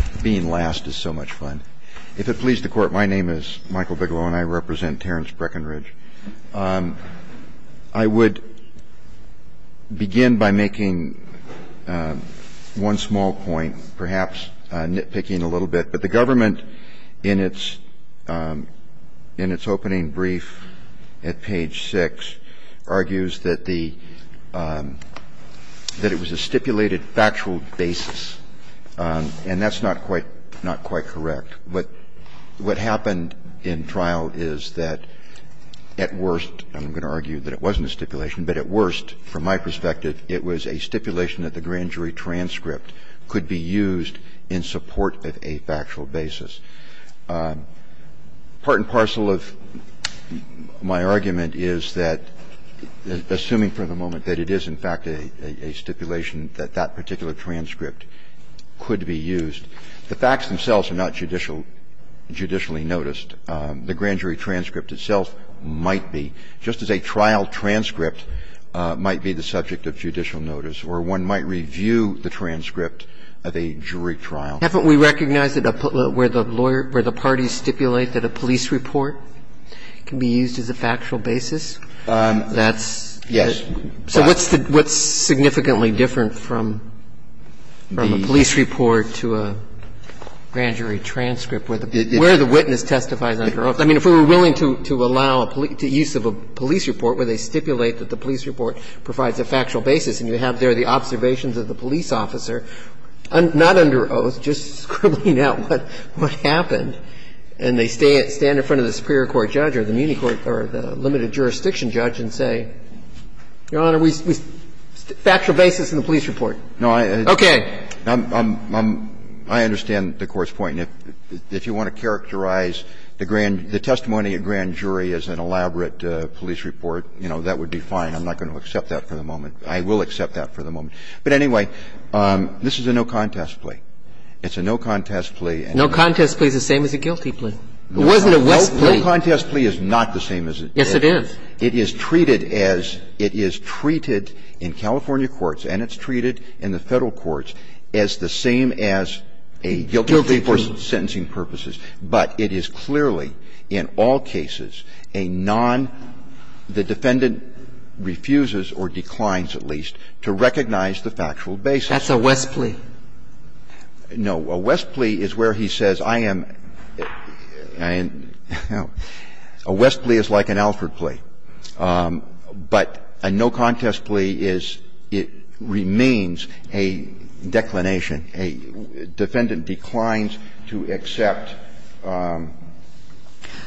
My name is Michael Bigelow and I represent Terrence Breckenridge. I would begin by making one small point, perhaps nitpicking a little bit, but the government in its opening brief at page 6 argues that it was a stipulated factual basis, and that's not quite correct. What happened in trial is that, at worst, I'm going to argue that it wasn't a stipulation, but at worst, from my perspective, it was a stipulation that the grand jury transcript could be used in support of a factual basis. Part and parcel of my argument is that, assuming for the moment, that it is, in fact, a stipulation that that particular transcript could be used. The facts themselves are not judicial – judicially noticed. The grand jury transcript itself might be, just as a trial transcript might be the subject of judicial notice, or one might review the transcript of a jury trial. Roberts. Haven't we recognized that where the lawyer – where the parties stipulate that a police report can be used as a factual basis, that's – Breyer. Yes. Roberts. So what's significantly different from a police report to a grand jury transcript where the witness testifies under oath? I mean, if we were willing to allow a police report where they stipulate that the police report provides a factual basis and you have there the observations of the police officer, not under oath, just scribbling out what happened, and they stand in front of the superior court judge or the muni court or the limited jurisdiction judge and say, Your Honor, we – factual basis in the police report. No, I understand the Court's point. If you want to characterize the grand – the police report, you know, that would be fine. I'm not going to accept that for the moment. I will accept that for the moment. But anyway, this is a no-contest plea. It's a no-contest plea. No-contest plea is the same as a guilty plea. It wasn't a WISC plea. No-contest plea is not the same as a guilty plea. Yes, it is. It is treated as – it is treated in California courts and it's treated in the Federal courts as the same as a guilty plea for sentencing purposes. But it is clearly, in all cases, a non – the defendant refuses or declines, at least, to recognize the factual basis. That's a WESC plea. No. A WESC plea is where he says, I am – a WESC plea is like an Alford plea. But a no-contest plea is – it remains a declination. A defendant declines to accept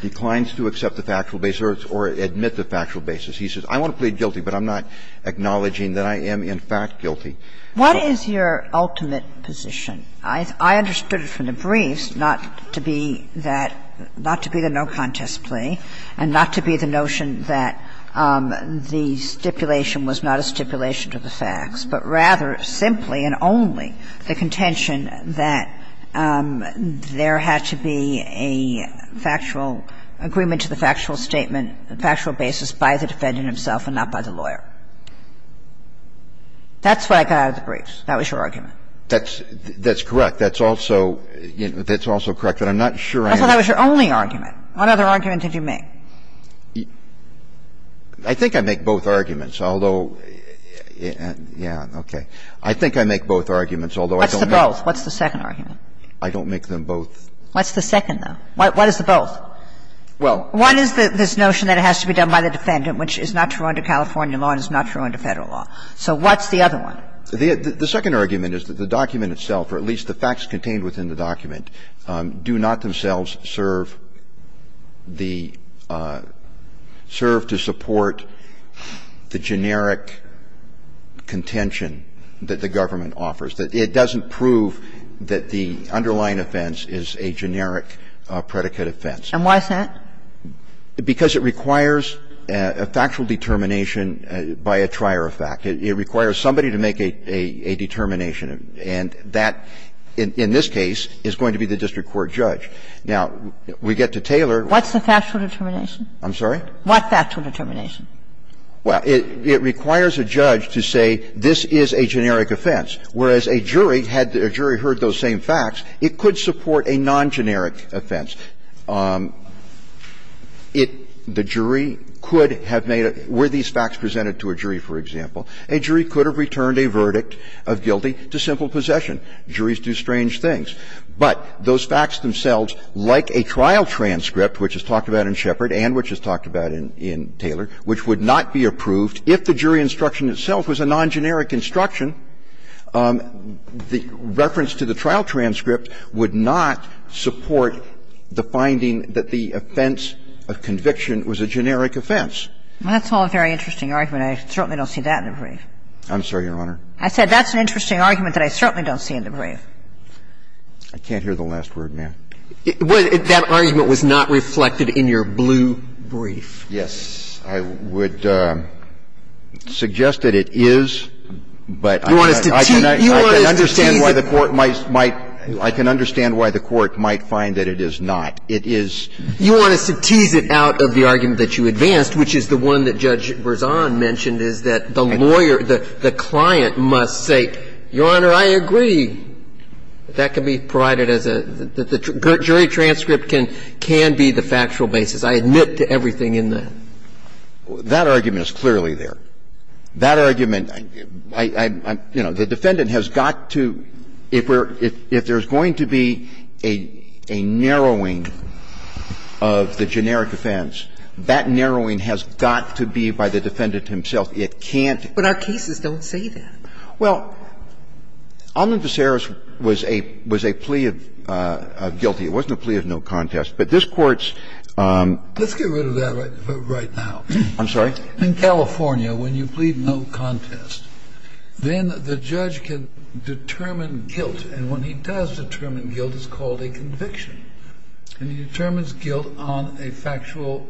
the factual basis or admit the factual basis. He says, I want to plead guilty, but I'm not acknowledging that I am, in fact, guilty. What is your ultimate position? I understood it from the briefs not to be that – not to be the no-contest plea and not to be the notion that the stipulation was not a stipulation to the facts, but rather simply and only the contention that there had to be a factual agreement to the factual statement, factual basis by the defendant himself and not by the lawyer. That's what I got out of the briefs. That was your argument. That's – that's correct. That's also – that's also correct. But I'm not sure I am – That's why that was your only argument. What other argument did you make? I think I make both arguments, although – yeah, okay. I think I make both arguments, although I don't make them. What's the both? What's the second argument? I don't make them both. What's the second, though? What is the both? Well, one is this notion that it has to be done by the defendant, which is not true under California law and is not true under Federal law. So what's the other one? The second argument is that the document itself, or at least the facts contained within the document, do not themselves serve the – serve to support the generic contention that the government offers, that it doesn't prove that the underlying offense is a generic predicate offense. And why is that? Because it requires a factual determination by a trier of fact. It requires somebody to make a determination, and that, in this case, is going to be the district court judge. Now, we get to Taylor. What's the factual determination? I'm sorry? What factual determination? Well, it requires a judge to say this is a generic offense, whereas a jury, had a jury heard those same facts, it could support a non-generic offense. It – the jury could have made a – were these facts presented to a jury, for example, a jury could have returned a verdict of guilty to simple possession. Juries do strange things. But those facts themselves, like a trial transcript, which is talked about in Shepard and which is talked about in Taylor, which would not be approved if the jury instruction itself was a non-generic instruction, the reference to the trial transcript would not support the finding that the offense of conviction was a generic offense. And that's a very interesting argument. I certainly don't see that in the brief. I'm sorry, Your Honor. I said that's an interesting argument that I certainly don't see in the brief. I can't hear the last word, ma'am. That argument was not reflected in your blue brief. Yes. I would suggest that it is, but I can understand why the court might find that it is not. It is – You want us to tease it out of the argument that you advanced, which is the one that Judge Berzon mentioned, is that the lawyer, the client must say, Your Honor, I agree. That can be provided as a – the jury transcript can be the factual basis. I admit to everything in that. That argument is clearly there. That argument – I'm – you know, the defendant has got to – if we're – if there's going to be a narrowing of the generic offense, that narrowing has got to be by the defendant himself. It can't be – But our cases don't say that. Well, Omnibus Errors was a – was a plea of guilty. It wasn't a plea of no contest. But this Court's – Let's get rid of that right now. I'm sorry? In California, when you plead no contest, then the judge can determine guilt. And when he does determine guilt, it's called a conviction. And he determines guilt on a factual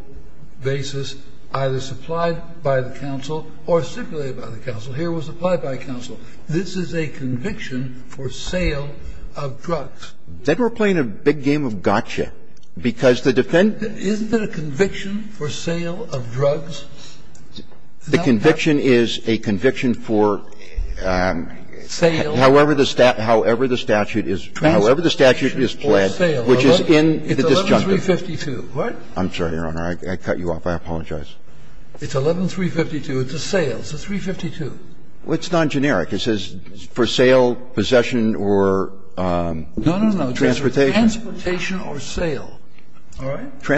basis, either supplied by the counsel or stipulated by the counsel. Here it was supplied by counsel. This is a conviction for sale of drugs. Then we're playing a big game of gotcha, because the defendant – Isn't it a conviction for sale of drugs? The conviction is a conviction for – Sale. However the statute is – however the statute is planned, which is in the disjunctive. It's 11-352, right? I'm sorry, Your Honor. I cut you off. I apologize. It's 11-352. It's a sale. It's a 352. Well, it's non-generic. It says for sale, possession, or transportation. No, no, no, transportation or sale. All right?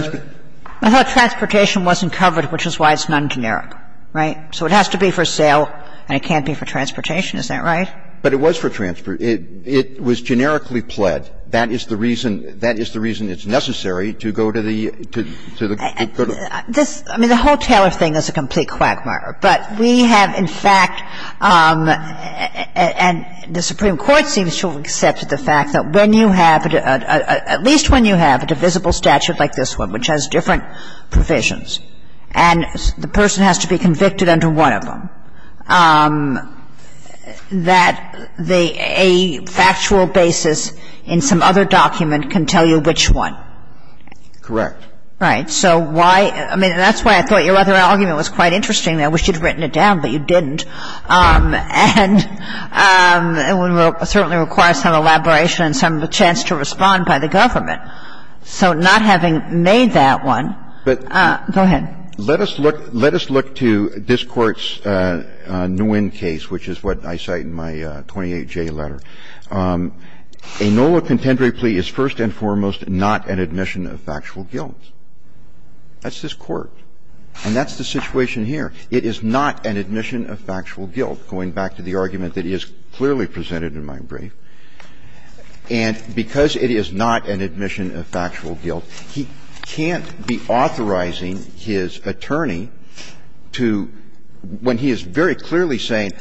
I thought transportation wasn't covered, which is why it's non-generic, right? So it has to be for sale, and it can't be for transportation. Is that right? But it was for transportation. It was generically pled. That is the reason – that is the reason it's necessary to go to the – to the court of law. This – I mean, the whole Taylor thing is a complete quagmire. But we have, in fact – and the Supreme Court seems to have accepted the fact that when you have a – at least when you have a divisible statute like this one, which has different provisions, and the person has to be convicted under one of them, that they – a factual basis in some other document can tell you which one. Correct. Right. So why – I mean, that's why I thought your other argument was quite interesting. I wish you'd written it down, but you didn't. And it certainly requires some elaboration and some chance to respond by the government. So not having made that one – go ahead. Let us look – let us look to this Court's Nguyen case, which is what I cite in my 28J letter. A NOLA contendory plea is first and foremost not an admission of factual guilt. That's this Court. And that's the situation here. It is not an admission of factual guilt, going back to the argument that is clearly presented in my brief. And because it is not an admission of factual guilt, he can't be authorizing his attorney to – when he is very clearly saying,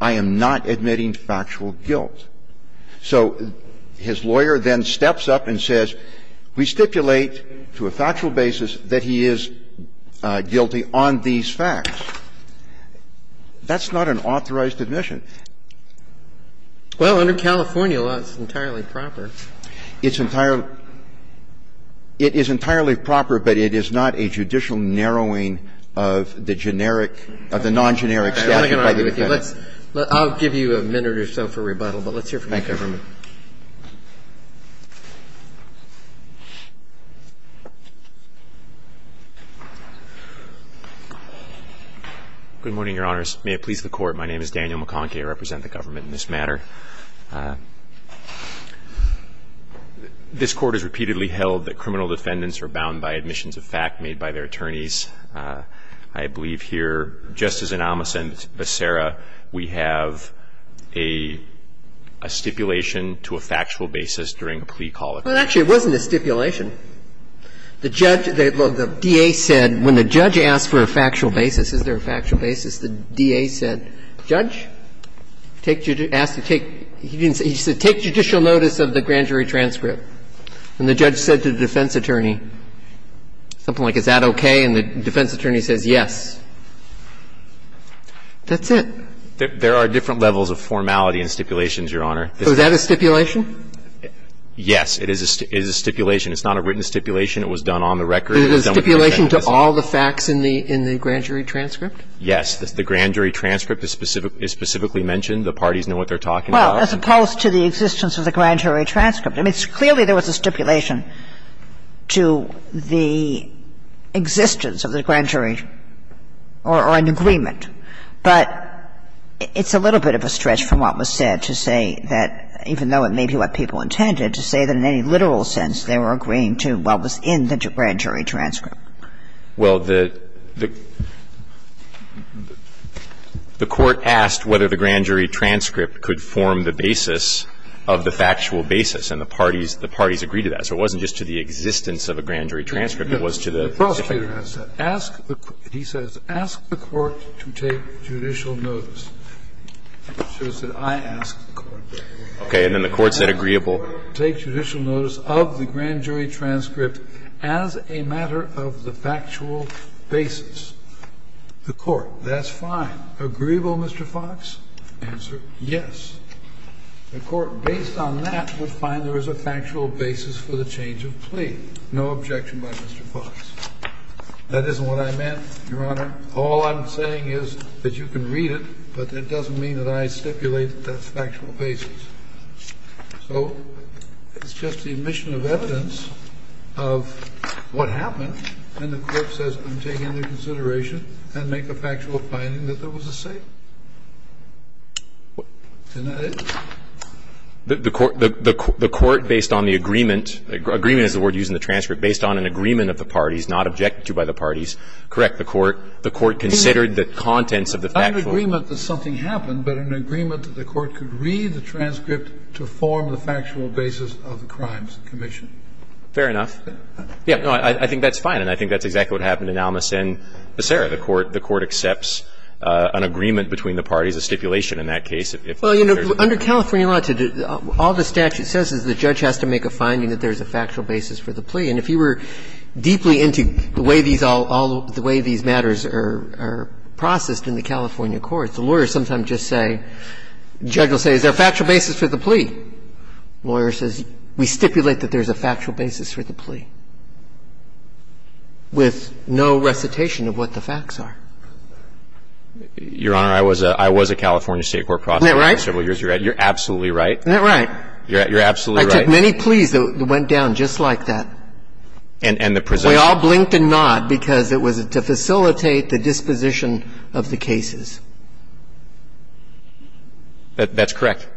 I am not admitting factual guilt. So his lawyer then steps up and says, we stipulate to a factual basis that he is guilty on these facts. That's not an authorized admission. Well, under California law, it's entirely proper. It's entirely – it is entirely proper, but it is not a judicial narrowing of the generic – of the non-generic statute by the defendant. I'm not going to argue with you. Let's – I'll give you a minute or so for rebuttal, but let's hear from the government. May it please the Court. My name is Daniel McConkie. I represent the government in this matter. This Court has repeatedly held that criminal defendants are bound by admissions of fact made by their attorneys. I believe here, just as in Amos and Becerra, we have a stipulation to a factual basis during a plea call. Well, actually, it wasn't a stipulation. The judge – well, the D.A. said when the judge asked for a factual basis, is there a factual basis? The D.A. said, Judge, take – asked to take – he didn't say – he said, take judicial notice of the grand jury transcript. And the judge said to the defense attorney something like, is that okay? And the defense attorney says, yes. That's it. There are different levels of formality in stipulations, Your Honor. So is that a stipulation? Yes, it is a stipulation. It's not a written stipulation. It was done on the record. So it's a stipulation to all the facts in the grand jury transcript? Yes. The grand jury transcript is specifically mentioned. The parties know what they're talking about. Well, as opposed to the existence of the grand jury transcript. I mean, clearly, there was a stipulation to the existence of the grand jury or an agreement. But it's a little bit of a stretch from what was said to say that, even though it may be what people intended, to say that in any literal sense, they were agreeing to what was in the grand jury transcript. Well, the Court asked whether the grand jury transcript could form the basis of the factual basis, and the parties agreed to that. So it wasn't just to the existence of a grand jury transcript. It was to the stipulation. The prosecutor has said, ask the Court, he says, ask the Court to take judicial notice. So he said, I ask the Court to take judicial notice of the grand jury transcript as a matter of the factual basis. The Court, that's fine. Agreeable, Mr. Fox? Answer, yes. The Court, based on that, would find there was a factual basis for the change of plea. No objection by Mr. Fox. That isn't what I meant, Your Honor. All I'm saying is that you can read it, but that doesn't mean that I stipulate that that's factual basis. So it's just the admission of evidence of what happened, and the Court says, I'm taking into consideration and make a factual finding that there was a say. And that is? The Court, based on the agreement, agreement is the word used in the transcript, based on an agreement of the parties, not objected to by the parties, correct the Court. The Court considered the contents of the factual. It's not an agreement that something happened, but an agreement that the Court could read the transcript to form the factual basis of the crimes commission. Fair enough. Yeah, no, I think that's fine, and I think that's exactly what happened in Almas and Becerra. The Court accepts an agreement between the parties, a stipulation in that case. Well, you know, under California law, all the statute says is the judge has to make a finding that there's a factual basis for the plea. And if you were deeply into the way these all, all, the way these matters are processed in the California courts, the lawyers sometimes just say, the judge will say, is there a factual basis for the plea? The lawyer says, we stipulate that there's a factual basis for the plea, with no recitation of what the facts are. Your Honor, I was a California State court prosecutor for several years. Isn't that right? You're absolutely right. Isn't that right? You're absolutely right. I took many pleas that went down just like that. And the presumption? We all blinked a nod, because it was to facilitate the disposition of the cases. That's correct.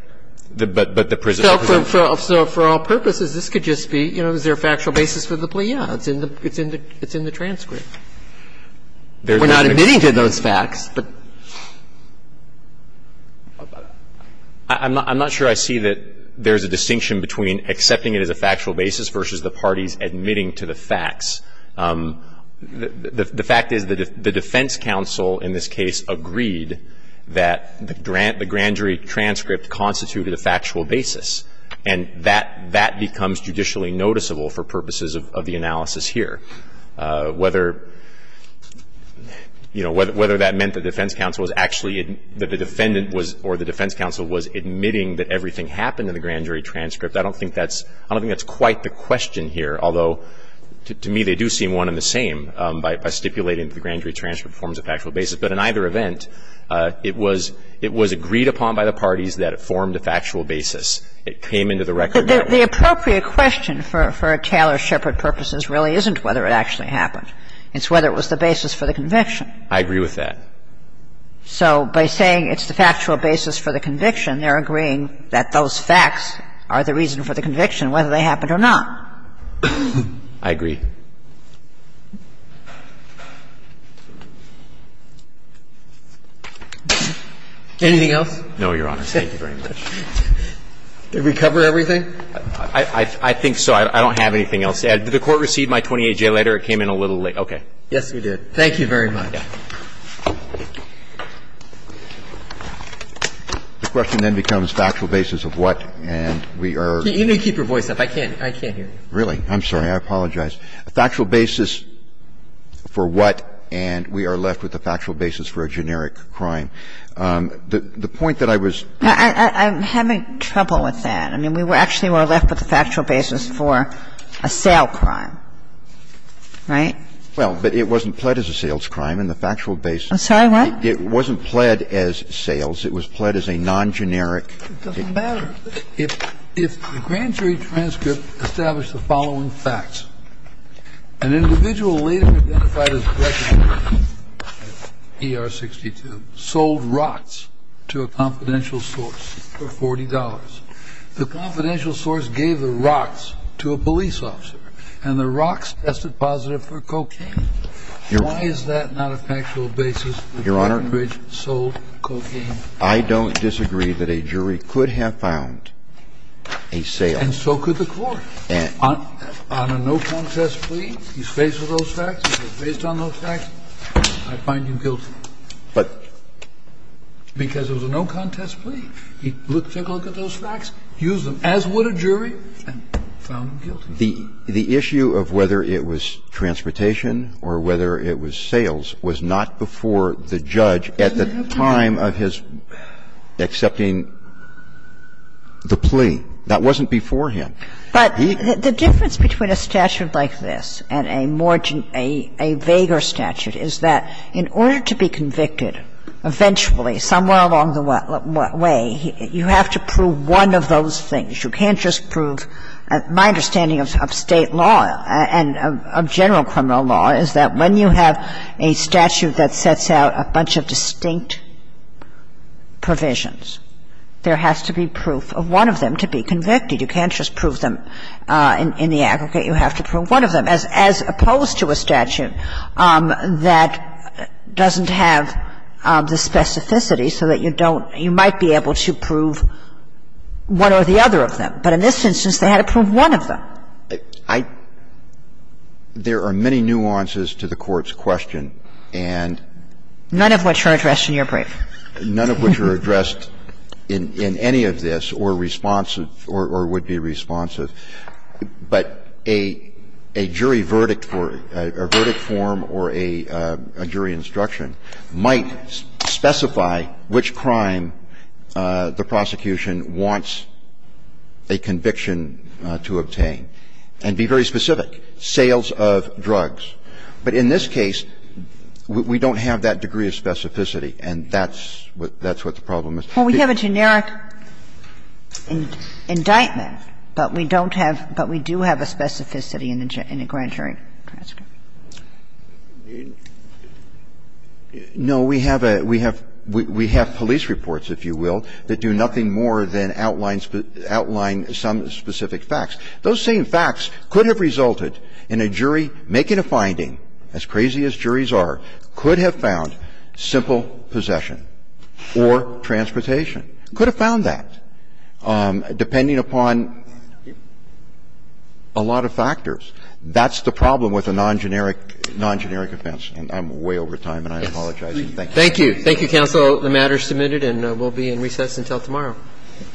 But the presumption? So for all purposes, this could just be, you know, is there a factual basis for the plea? Yeah, it's in the transcript. We're not admitting to those facts, but. I'm not sure I see that there's a distinction between accepting it as a factual basis versus the parties admitting to the facts. The fact is, the defense counsel in this case agreed that the grand jury transcript constituted a factual basis. And that becomes judicially noticeable for purposes of the analysis here. Whether, you know, whether that meant the defense counsel was actually, that the defendant was, or the defense counsel was admitting that everything happened in the grand jury transcript. I don't think that's quite the question here. Although, to me, they do seem one and the same by stipulating that the grand jury transcript forms a factual basis. But in either event, it was agreed upon by the parties that it formed a factual basis. It came into the record that. The appropriate question for Taylor-Shepard purposes really isn't whether it actually happened. It's whether it was the basis for the conviction. I agree with that. So by saying it's the factual basis for the conviction, they're agreeing that those are the reasons for the conviction, whether they happened or not. I agree. Anything else? No, Your Honor. Thank you very much. Did we cover everything? I think so. I don't have anything else. Did the Court receive my 28-J letter? It came in a little late. Okay. Yes, we did. Thank you very much. The question then becomes factual basis of what, and we are going to keep your voice up. I can't hear you. Really? I'm sorry. I apologize. Factual basis for what, and we are left with a factual basis for a generic crime. The point that I was. I'm having trouble with that. I mean, we actually were left with a factual basis for a sale crime, right? Well, but it wasn't pled as a sales crime in the factual basis. I'm sorry, what? It wasn't pled as sales. It was pled as a non-generic. It doesn't matter. If the grand jury transcript established the following facts, an individual later identified as a wrecking crew, ER-62, sold rocks to a confidential source for $40. The confidential source gave the rocks to a police officer, and the rocks tested positive for cocaine. Why is that not a factual basis that Rockingbridge sold cocaine? Your Honor, I don't disagree that a jury could have found a sale. And so could the Court. On a no-contest plea, he's faced with those facts, he's been faced on those facts, I find him guilty. But. Because it was a no-contest plea. He took a look at those facts, used them, as would a jury, and found him guilty. The issue of whether it was transportation or whether it was sales was not before the judge at the time of his accepting the plea. That wasn't before him. But the difference between a statute like this and a more gen – a vaguer statute is that in order to be convicted, eventually, somewhere along the way, you have to prove one of those things. You can't just prove – my understanding of State law and of general criminal law is that when you have a statute that sets out a bunch of distinct provisions, there has to be proof of one of them to be convicted. You can't just prove them in the aggregate. You have to prove one of them, as opposed to a statute that doesn't have the specificity so that you don't – you might be able to prove one or the other of them. But in this instance, they had to prove one of them. I – there are many nuances to the Court's question, and – None of which are addressed in your brief. None of which are addressed in any of this or responsive or would be responsive. But a jury verdict for – a verdict form or a jury instruction might specify which crime the prosecution wants a conviction to obtain and be very specific, sales of drugs. But in this case, we don't have that degree of specificity, and that's what the problem is. Well, we have a generic indictment, but we don't have – but we do have a specificity in the grand jury transcript. No, we have a – we have – we have police reports, if you will, that do nothing more than outline – outline some specific facts. Those same facts could have resulted in a jury making a finding, as crazy as juries are, could have found simple possession or transportation, could have found that, depending upon a lot of factors. We're trying to do a generic – non-generic offense, and I'm way over time, and I apologize. Thank you. Thank you. Thank you, counsel. The matter is submitted and will be in recess until tomorrow. All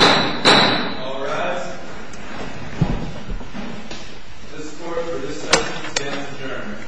rise. This court for this session stands adjourned. Thank you.